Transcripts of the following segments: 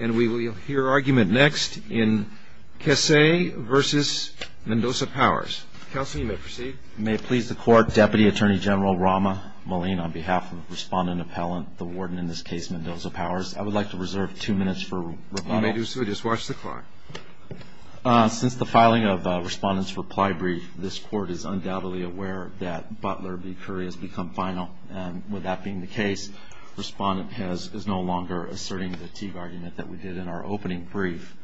And we will hear argument next in Kessee v. Mendoza-Powers. Counsel, you may proceed. May it please the court, Deputy Attorney General Rama Malin on behalf of the respondent appellant, the warden in this case, Mendoza-Powers. I would like to reserve two minutes for rebuttal. You may do so. Just watch the clock. Since the filing of respondent's reply brief, this court is undoubtedly aware that Butler v. Curry has become final. And with that being the case, respondent is no longer asserting the Teague argument that we did in our opening brief.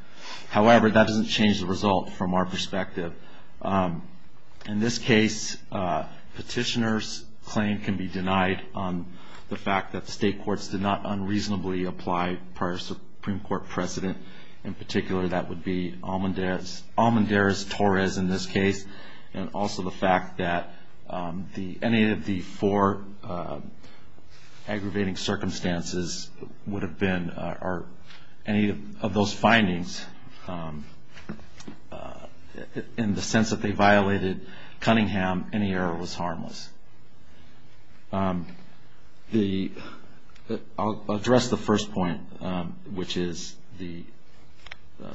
However, that doesn't change the result from our perspective. In this case, petitioner's claim can be denied on the fact that the state courts did not unreasonably apply prior Supreme Court precedent. In particular, that would be Almendarez-Torres in this case, and also the fact that any of the four aggravating circumstances would have been, or any of those findings, in the sense that they violated Cunningham, any error was harmless. I'll address the first point, which is the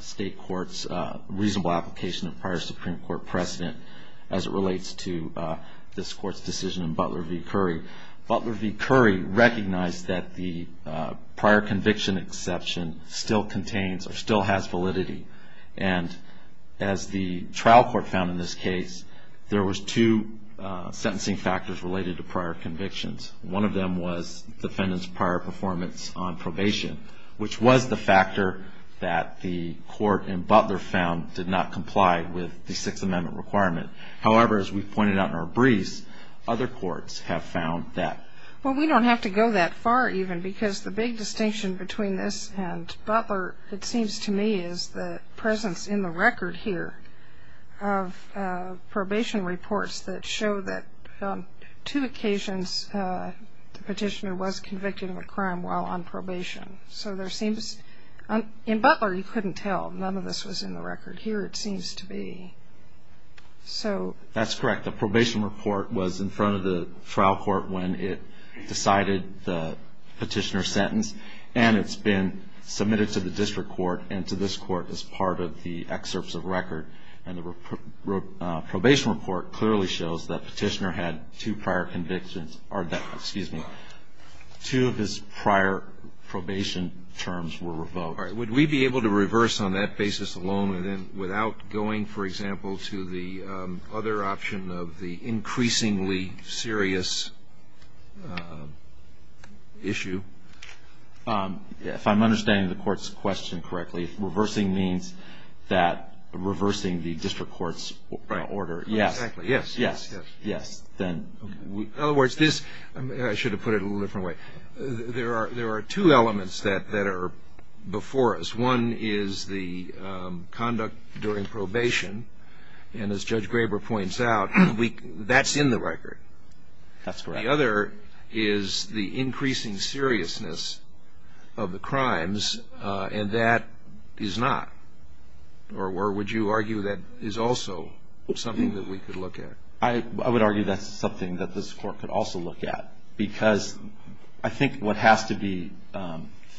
state court's reasonable application of prior Supreme Court precedent as it relates to this court's decision in Butler v. Curry. Butler v. Curry recognized that the prior conviction exception still contains, or still has, validity. And as the trial court found in this case, there was two sentencing factors related to prior convictions. One of them was defendant's prior performance on probation, which was the factor that the court in Butler found did not comply with the Sixth Amendment requirement. However, as we pointed out in our briefs, other courts have found that. Well, we don't have to go that far, even, because the big distinction between this and Butler, it seems to me, is the presence in the record here of probation reports that show that on two occasions, the petitioner was convicted of a crime while on probation. So there seems, in Butler, you couldn't tell. None of this was in the record. Here, it seems to be. So that's correct. The probation report was in front of the trial court when it decided the petitioner's sentence, and it's been submitted to the district court and to this court as part of the excerpts of record. And the probation report clearly shows that the petitioner had two prior convictions, or that, excuse me, two of his prior probation terms were revoked. Would we be able to reverse on that basis alone, and then without going, for example, to the other option of the increasingly serious issue? If I'm understanding the court's question correctly, reversing means that reversing the district court's order. Yes. Exactly. Yes. Yes. Yes. In other words, this, I should have put it a little different way, there are two elements that are before us. One is the conduct during probation, and as Judge Graber points out, that's in the record. That's correct. The other is the increasing seriousness of the crimes, and that is not. Or would you argue that is also something that we could look at? I would argue that's something that this court could also look at, because I think what has to be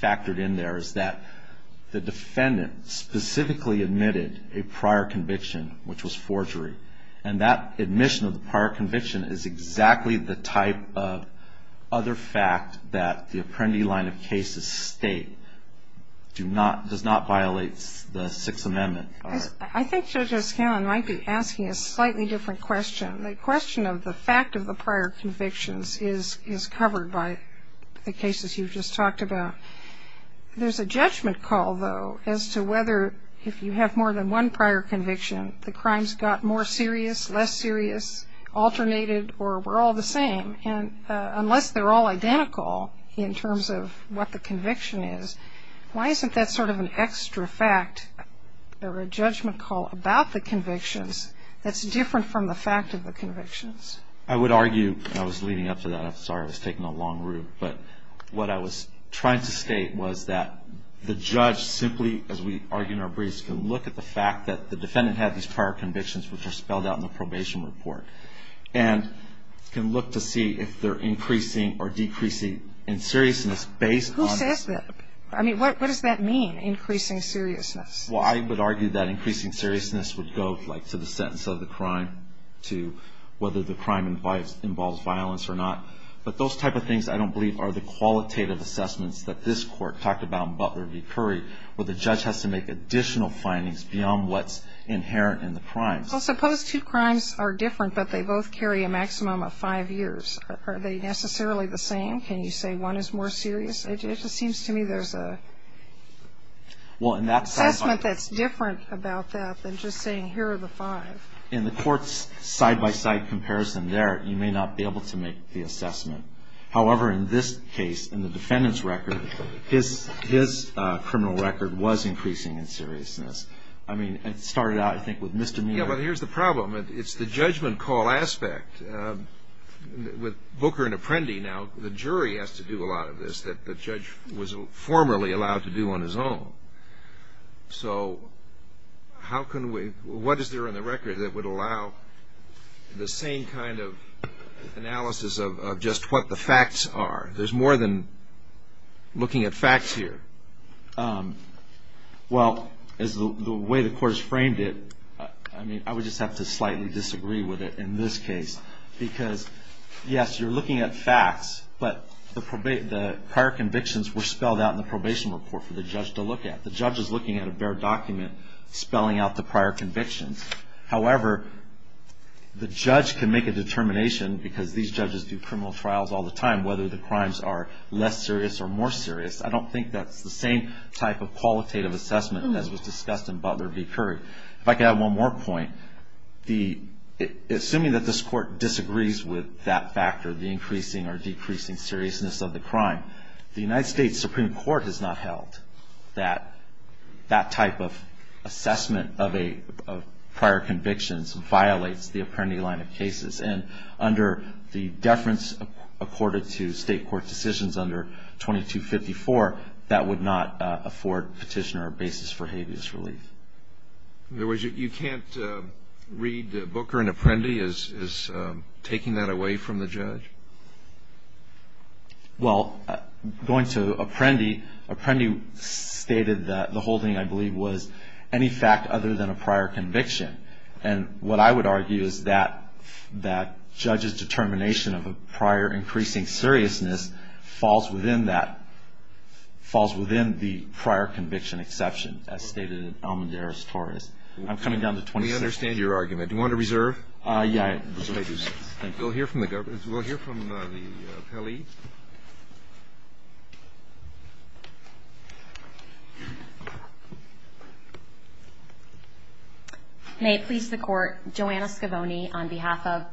factored in there is that the defendant specifically admitted a prior conviction, which was forgery. And that admission of the prior conviction is exactly the type of other fact that the Apprendi line of cases state does not violate the Sixth Amendment. I think Judge O'Scannon might be asking a slightly different question. The question of the fact of the prior convictions is covered by the cases you've just talked about. There's a judgment call, though, as to whether if you have more than one prior conviction, the crimes got more serious, less serious, alternated, or were all the same. And unless they're all identical in terms of what the conviction is, why isn't that sort of an extra fact or a judgment call about the convictions that's different from the fact of the convictions? I would argue, and I was leading up to that, I'm sorry I was taking a long route, but what I was trying to state was that the judge simply, as we argue in our briefs, can look at the fact that the defendant had these prior convictions, which are spelled out in the probation report, and can look to see if they're increasing or decreasing in seriousness based on this. Who says that? I mean, what does that mean, increasing seriousness? Well, I would argue that increasing seriousness would go to the sentence of the crime, to whether the crime involves violence or not. But those type of things, I don't believe, are the qualitative assessments that this court talked about in Butler v. Curry, where the judge has to make additional findings beyond what's inherent in the crimes. Well, suppose two crimes are different, but they both carry a maximum of five years. Are they necessarily the same? Can you say one is more serious? It just seems to me there's an assessment that's different about that than just saying, here are the five. In the court's side-by-side comparison there, you may not be able to make the assessment. However, in this case, in the defendant's record, his criminal record was increasing in seriousness. I mean, it started out, I think, with Mr. Mead. Yeah, but here's the problem. It's the judgment call aspect. With Booker and Apprendi, now, the jury has to do a lot of this that the judge was formerly allowed to do on his own. So what is there in the record that would allow the same kind of analysis of just what the facts are? There's more than looking at facts here. Well, as the way the court has framed it, I mean, I would just have to slightly disagree with it in this case. Because, yes, you're looking at facts, but the prior convictions were spelled out in the probation report for the judge to look at. The judge is looking at a bare document spelling out the prior convictions. However, the judge can make a determination, because these judges do criminal trials all the time, whether the crimes are less serious or more serious. I don't think that's the same type of qualitative assessment as was discussed in Butler v. Curry. If I could add one more point, assuming that this court disagrees with that factor, the increasing or decreasing seriousness of the crime, the United States Supreme Court has not ruled that that type of assessment of prior convictions violates the Apprendi line of cases. And under the deference accorded to state court decisions under 2254, that would not afford petitioner a basis for habeas relief. In other words, you can't read Booker and Apprendi as taking that away from the judge? Well, going to Apprendi, Apprendi stated that the whole thing, I believe, was any fact other than a prior conviction. And what I would argue is that that judge's determination of a prior increasing seriousness falls within that, falls within the prior conviction exception, as stated in Almendarez-Torres. I'm coming down to 2254. We understand your argument. Do you want to reserve? Thank you. We'll hear from the government. We'll hear from the government. We'll hear from the appellee. May it please the court, Joanna Scavone on behalf of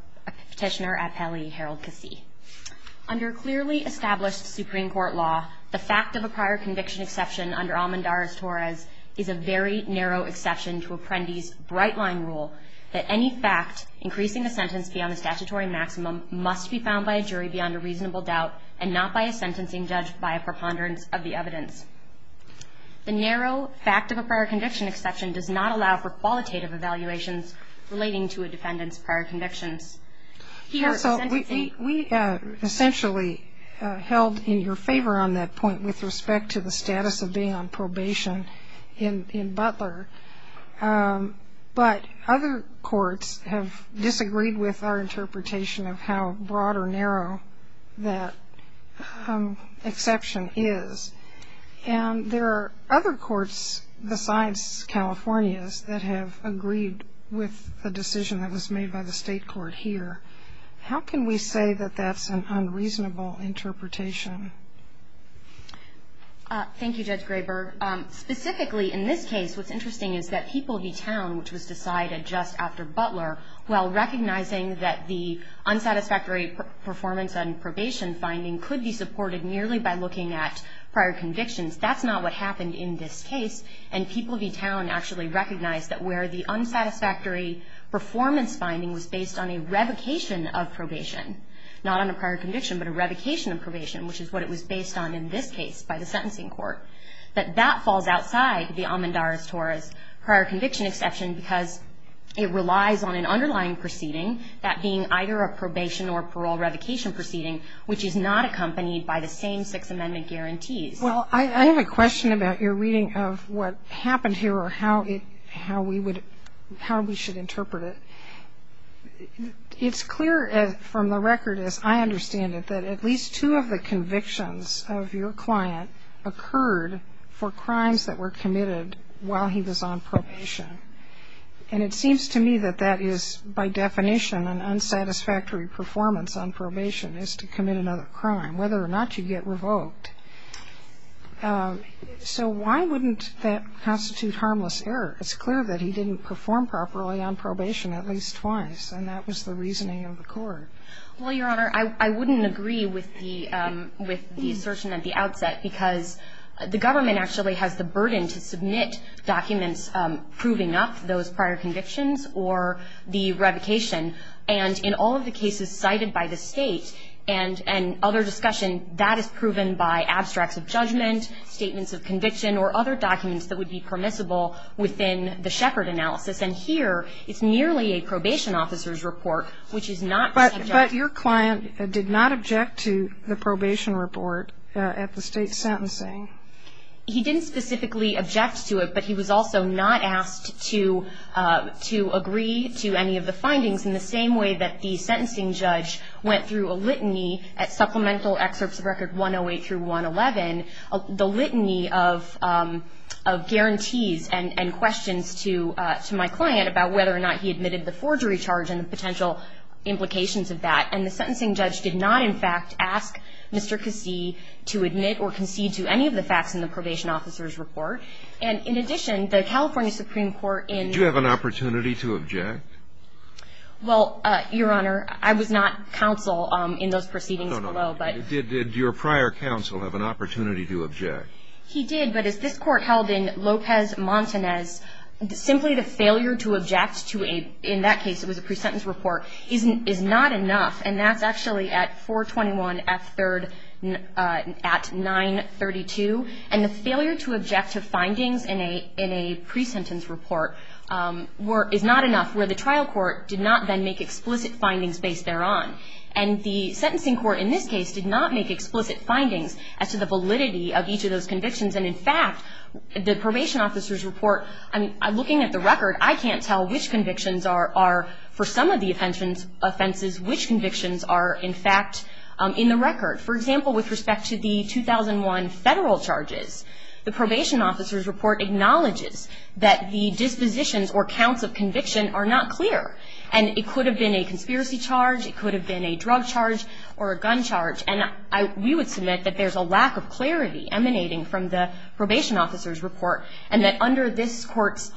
petitioner appellee Harold Cassie. Under clearly established Supreme Court law, the fact of a prior conviction exception under Almendarez-Torres is a very narrow exception to Apprendi's bright line rule that any fact increasing the sentence beyond the statutory maximum must be found by a jury beyond a reasonable doubt and not by a sentencing judge by a preponderance of the evidence. The narrow fact of a prior conviction exception does not allow for qualitative evaluations relating to a defendant's prior convictions. He also sentencing. We essentially held in your favor on that point with respect to the status of being on probation in Butler. But other courts have disagreed with our interpretation of how broad or narrow that exception is. And there are other courts besides California's that have agreed with the decision that was made by the state court here. How can we say that that's an unreasonable interpretation? Thank you, Judge Graber. Specifically, in this case, what's interesting is that People v. Town, which was decided just after Butler, while recognizing that the unsatisfactory performance on probation finding could be supported merely by looking at prior convictions, that's not what happened in this case. And People v. Town actually recognized that where the unsatisfactory performance finding was based on a revocation of probation, not on a prior conviction, but a revocation of probation, which is what it was based on in this case by the sentencing court, that that falls outside the Amandaris-Torres prior conviction exception because it relies on an underlying proceeding, that being either a probation or parole revocation proceeding, which is not accompanied by the same Six Amendment guarantees. Well, I have a question about your reading of what happened here or how we should interpret it. It's clear from the record, as I understand it, that at least two of the convictions of your client occurred for crimes that were committed while he was on probation. And it seems to me that that is, by definition, an unsatisfactory performance on probation is to commit another crime, whether or not you get revoked. So why wouldn't that constitute harmless error? It's clear that he didn't perform properly on probation at least twice, and that was the reasoning of the court. Well, Your Honor, I wouldn't agree with the assertion at the outset because the government actually has the burden to submit documents proving up those prior convictions or the revocation. And in all of the cases cited by the state and other discussion, that is proven by abstracts of judgment, statements of conviction, or other documents that would be permissible within the Sheppard analysis. And here, it's nearly a probation officer's report, which is not subject to the Sheppard analysis. But your client did not object to the probation report at the state sentencing. He didn't specifically object to it, but he was also not asked to agree to any of the findings. In the same way that the sentencing judge went through a litany at supplemental excerpts of record 108 through 111, the litany of guarantees and questions to my client about whether or not he admitted the forgery charge and the potential implications of that. And the sentencing judge did not, in fact, ask Mr. Cassie to admit or concede to any of the facts in the probation officer's report. And in addition, the California Supreme Court in- Did you have an opportunity to object? Well, Your Honor, I was not counsel in those proceedings below, but- Did your prior counsel have an opportunity to object? He did, but as this court held in Lopez-Montanez, simply the failure to object to a, in that case, it was a pre-sentence report, is not enough. And that's actually at 421F3rd at 932. And the failure to object to findings in a pre-sentence report is not enough, where the trial court did not then make explicit findings based thereon. And the sentencing court in this case did not make explicit findings as to the validity of each of those convictions. And in fact, the probation officer's report, looking at the record, I can't tell which convictions are, for some of the offenses, which convictions are in fact in the record. For example, with respect to the 2001 federal charges, the probation officer's report acknowledges that the dispositions or counts of conviction are not clear. And it could have been a conspiracy charge, it could have been a drug charge or a gun charge. And we would submit that there's a lack of clarity emanating from the probation officer's report. And that under this court's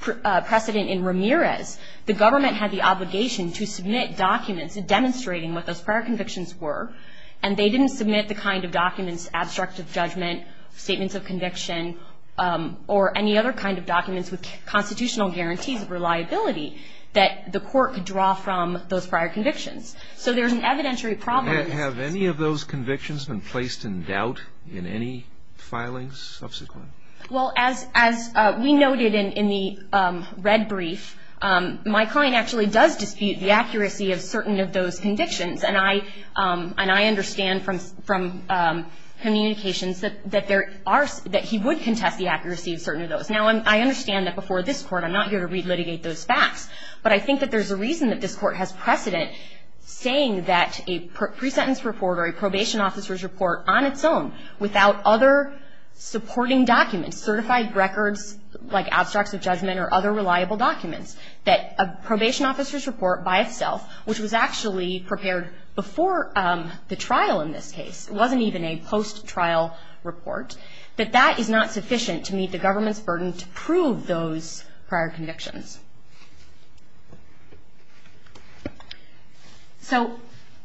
precedent in Ramirez, the government had the obligation to submit documents demonstrating what those prior convictions were. And they didn't submit the kind of documents, abstract of judgment, statements of conviction, or any other kind of documents with constitutional guarantees of reliability that the court could draw from those prior convictions. So there's an evidentiary problem. Have any of those convictions been placed in doubt in any filings subsequent? Well, as we noted in the red brief, my client actually does dispute the accuracy of certain of those convictions. And I understand from communications that he would contest the accuracy of certain of those. Now, I understand that before this court, I'm not here to re-litigate those facts. But I think that there's a reason that this court has precedent saying that a pre-sentence report or a probation officer's report on its own without other supporting documents, certified records like abstracts of judgment or other reliable documents, that a probation officer's report by itself, which was actually prepared before the trial in this case, it wasn't even a post-trial report, that that is not sufficient to meet the government's burden to prove those prior convictions. So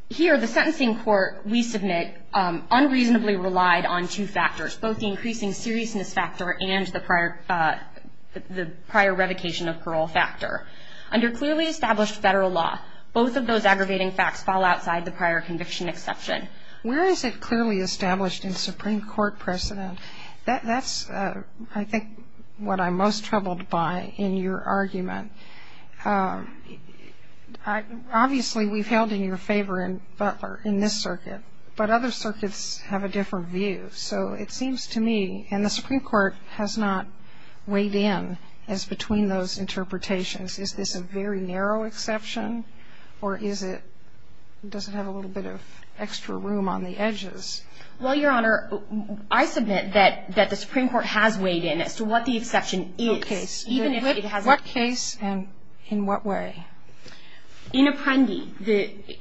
here, the sentencing court, we submit unreasonably relied on two factors, both the increasing seriousness factor and the prior revocation of parole factor. Under clearly established federal law, both of those aggravating facts fall outside the prior conviction exception. Where is it clearly established in Supreme Court precedent? That's, I think, what I'm most troubled by in your argument. Obviously, we've held in your favor in Butler, in this circuit, but other circuits have a different view. So it seems to me, and the Supreme Court has not weighed in as between those interpretations. Is this a very narrow exception or is it, does it have a little bit of extra room on the edges? Well, Your Honor, I submit that the Supreme Court has weighed in as to what the exception is, even if it hasn't- What case and in what way? In Appendi,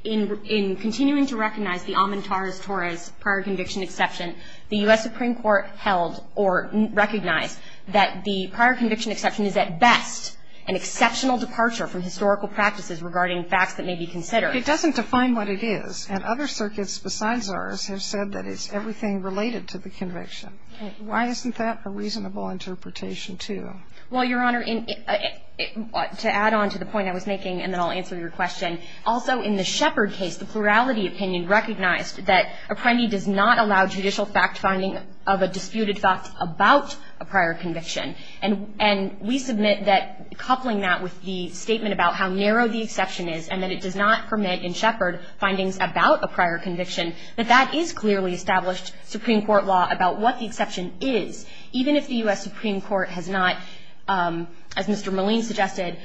in continuing to recognize the Amontares-Torres prior conviction exception, the U.S. Supreme Court held or recognized that the prior conviction exception is at best an exceptional departure from historical practices regarding facts that may be considered. It doesn't define what it is, and other circuits besides ours have said that it's everything related to the conviction. Why isn't that a reasonable interpretation, too? Well, Your Honor, to add on to the point I was making, and then I'll answer your question, also in the Shepard case, the plurality opinion recognized that Appendi does not allow judicial fact finding of a disputed fact about a prior conviction. And we submit that coupling that with the statement about how narrow the exception is and that it does not permit in Shepard findings about a prior conviction, that that is clearly established Supreme Court law about what the exception is, even if the U.S. Supreme Court has not, as Mr. Moline suggested,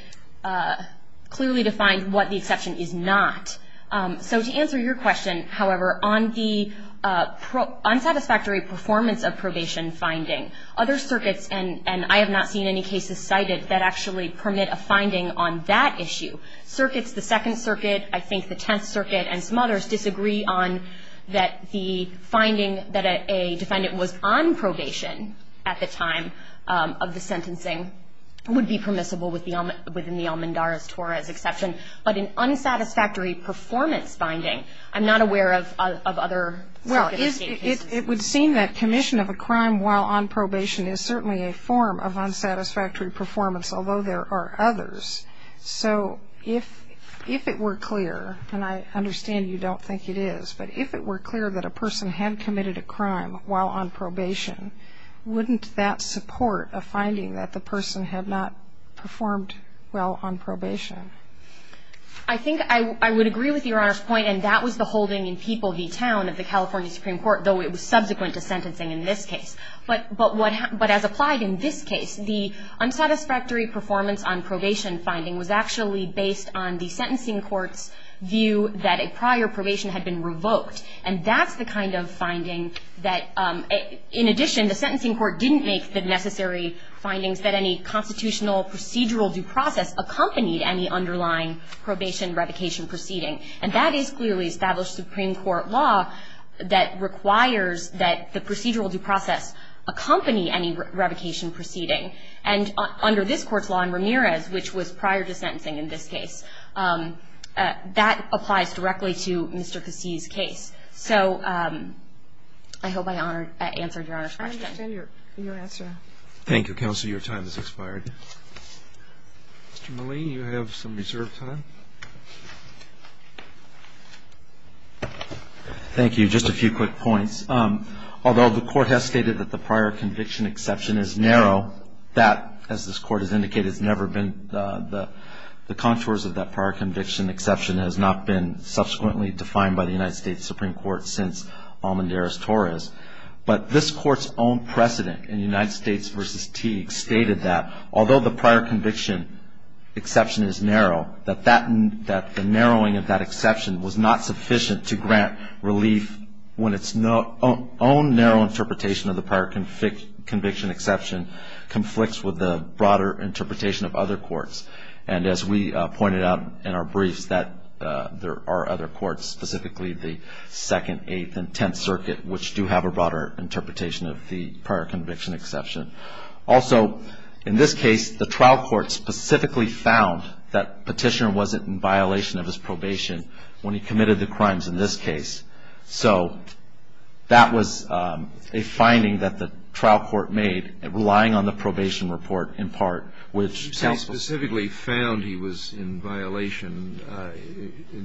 clearly defined what the exception is not. So to answer your question, however, on the unsatisfactory performance of probation finding, other circuits, and I have not seen any cases cited that actually permit a finding on that issue, circuits, the Second Circuit, I think the Tenth Circuit, and some others disagree on that the finding that a defendant was on probation at the time of the sentencing would be permissible within the Almandara's Torah's exception, but in unsatisfactory performance finding, I'm not aware of other cases. Well, it would seem that commission of a crime while on probation is certainly a form of unsatisfactory performance, although there are others. So if it were clear, and I understand you don't think it is, but if it were clear that a person had committed a crime while on probation, wouldn't that support a finding that the person had not performed well on probation? I think I would agree with Your Honor's point, and that was the holding in People v. Town of the California Supreme Court, though it was subsequent to sentencing in this case. But as applied in this case, the unsatisfactory performance on probation finding was actually based on the sentencing court's view that a prior probation had been revoked, and that's the kind of finding that, in addition, the sentencing court didn't make the necessary findings that any constitutional procedural due process accompanied any underlying probation revocation proceeding. And that is clearly established Supreme Court law that requires that the procedural due process accompany any revocation proceeding. And under this court's law in Ramirez, which was prior to sentencing in this case, that applies directly to Mr. Kassi's case. So I hope I answered Your Honor's question. I understand your answer. Thank you, Counselor. Your time has expired. Mr. Milley, you have some reserved time. Thank you. Just a few quick points. Although the court has stated that the prior conviction exception is narrow, that, as this court has indicated, has never been the contours of that prior conviction exception, has not been subsequently defined by the United States Supreme Court since Almendarez-Torres, but this court's own precedent in United States v. Teague stated that, although the prior conviction exception is narrow, that the narrowing of that exception was not sufficient to grant relief when its own narrow interpretation of the prior conviction exception conflicts with the broader interpretation of other courts. And as we pointed out in our briefs there are other courts, specifically the Second, Eighth, and Tenth Circuit, which do have a broader interpretation of the prior conviction exception. Also, in this case, the trial court specifically found that Petitioner wasn't in violation of his probation when he committed the crimes in this case. So that was a finding that the trial court made relying on the probation report in part, which counsel- he was in violation.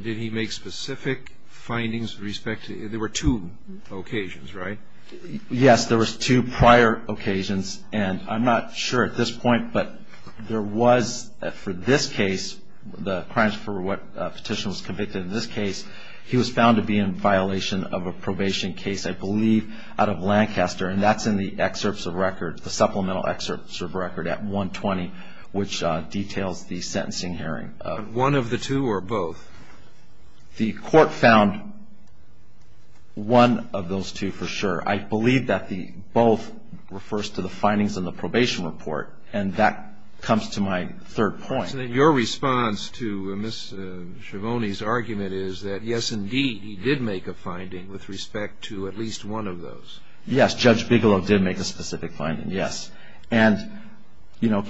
Did he make specific findings with respect to, there were two occasions, right? Yes, there was two prior occasions, and I'm not sure at this point, but there was, for this case, the crimes for what Petitioner was convicted in this case, he was found to be in violation of a probation case, I believe, out of Lancaster, and that's in the excerpts of record, the supplemental excerpts of record at 120, which details the sentencing hearing. One of the two or both? The court found one of those two for sure. I believe that the both refers to the findings in the probation report, and that comes to my third point. So then your response to Ms. Schiavone's argument is that yes, indeed, he did make a finding with respect to at least one of those. Yes, Judge Bigelow did make a specific finding, yes. And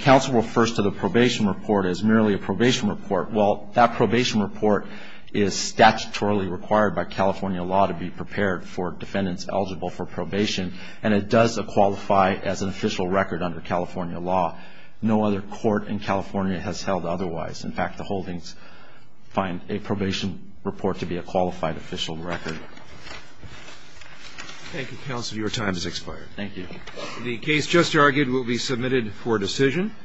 counsel refers to the probation report as merely a probation report. Well, that probation report is statutorily required by California law to be prepared for defendants eligible for probation, and it does qualify as an official record under California law. No other court in California has held otherwise. In fact, the holdings find a probation report to be a qualified official record. Thank you, counsel. Your time has expired. Thank you. The case just argued will be submitted for decision.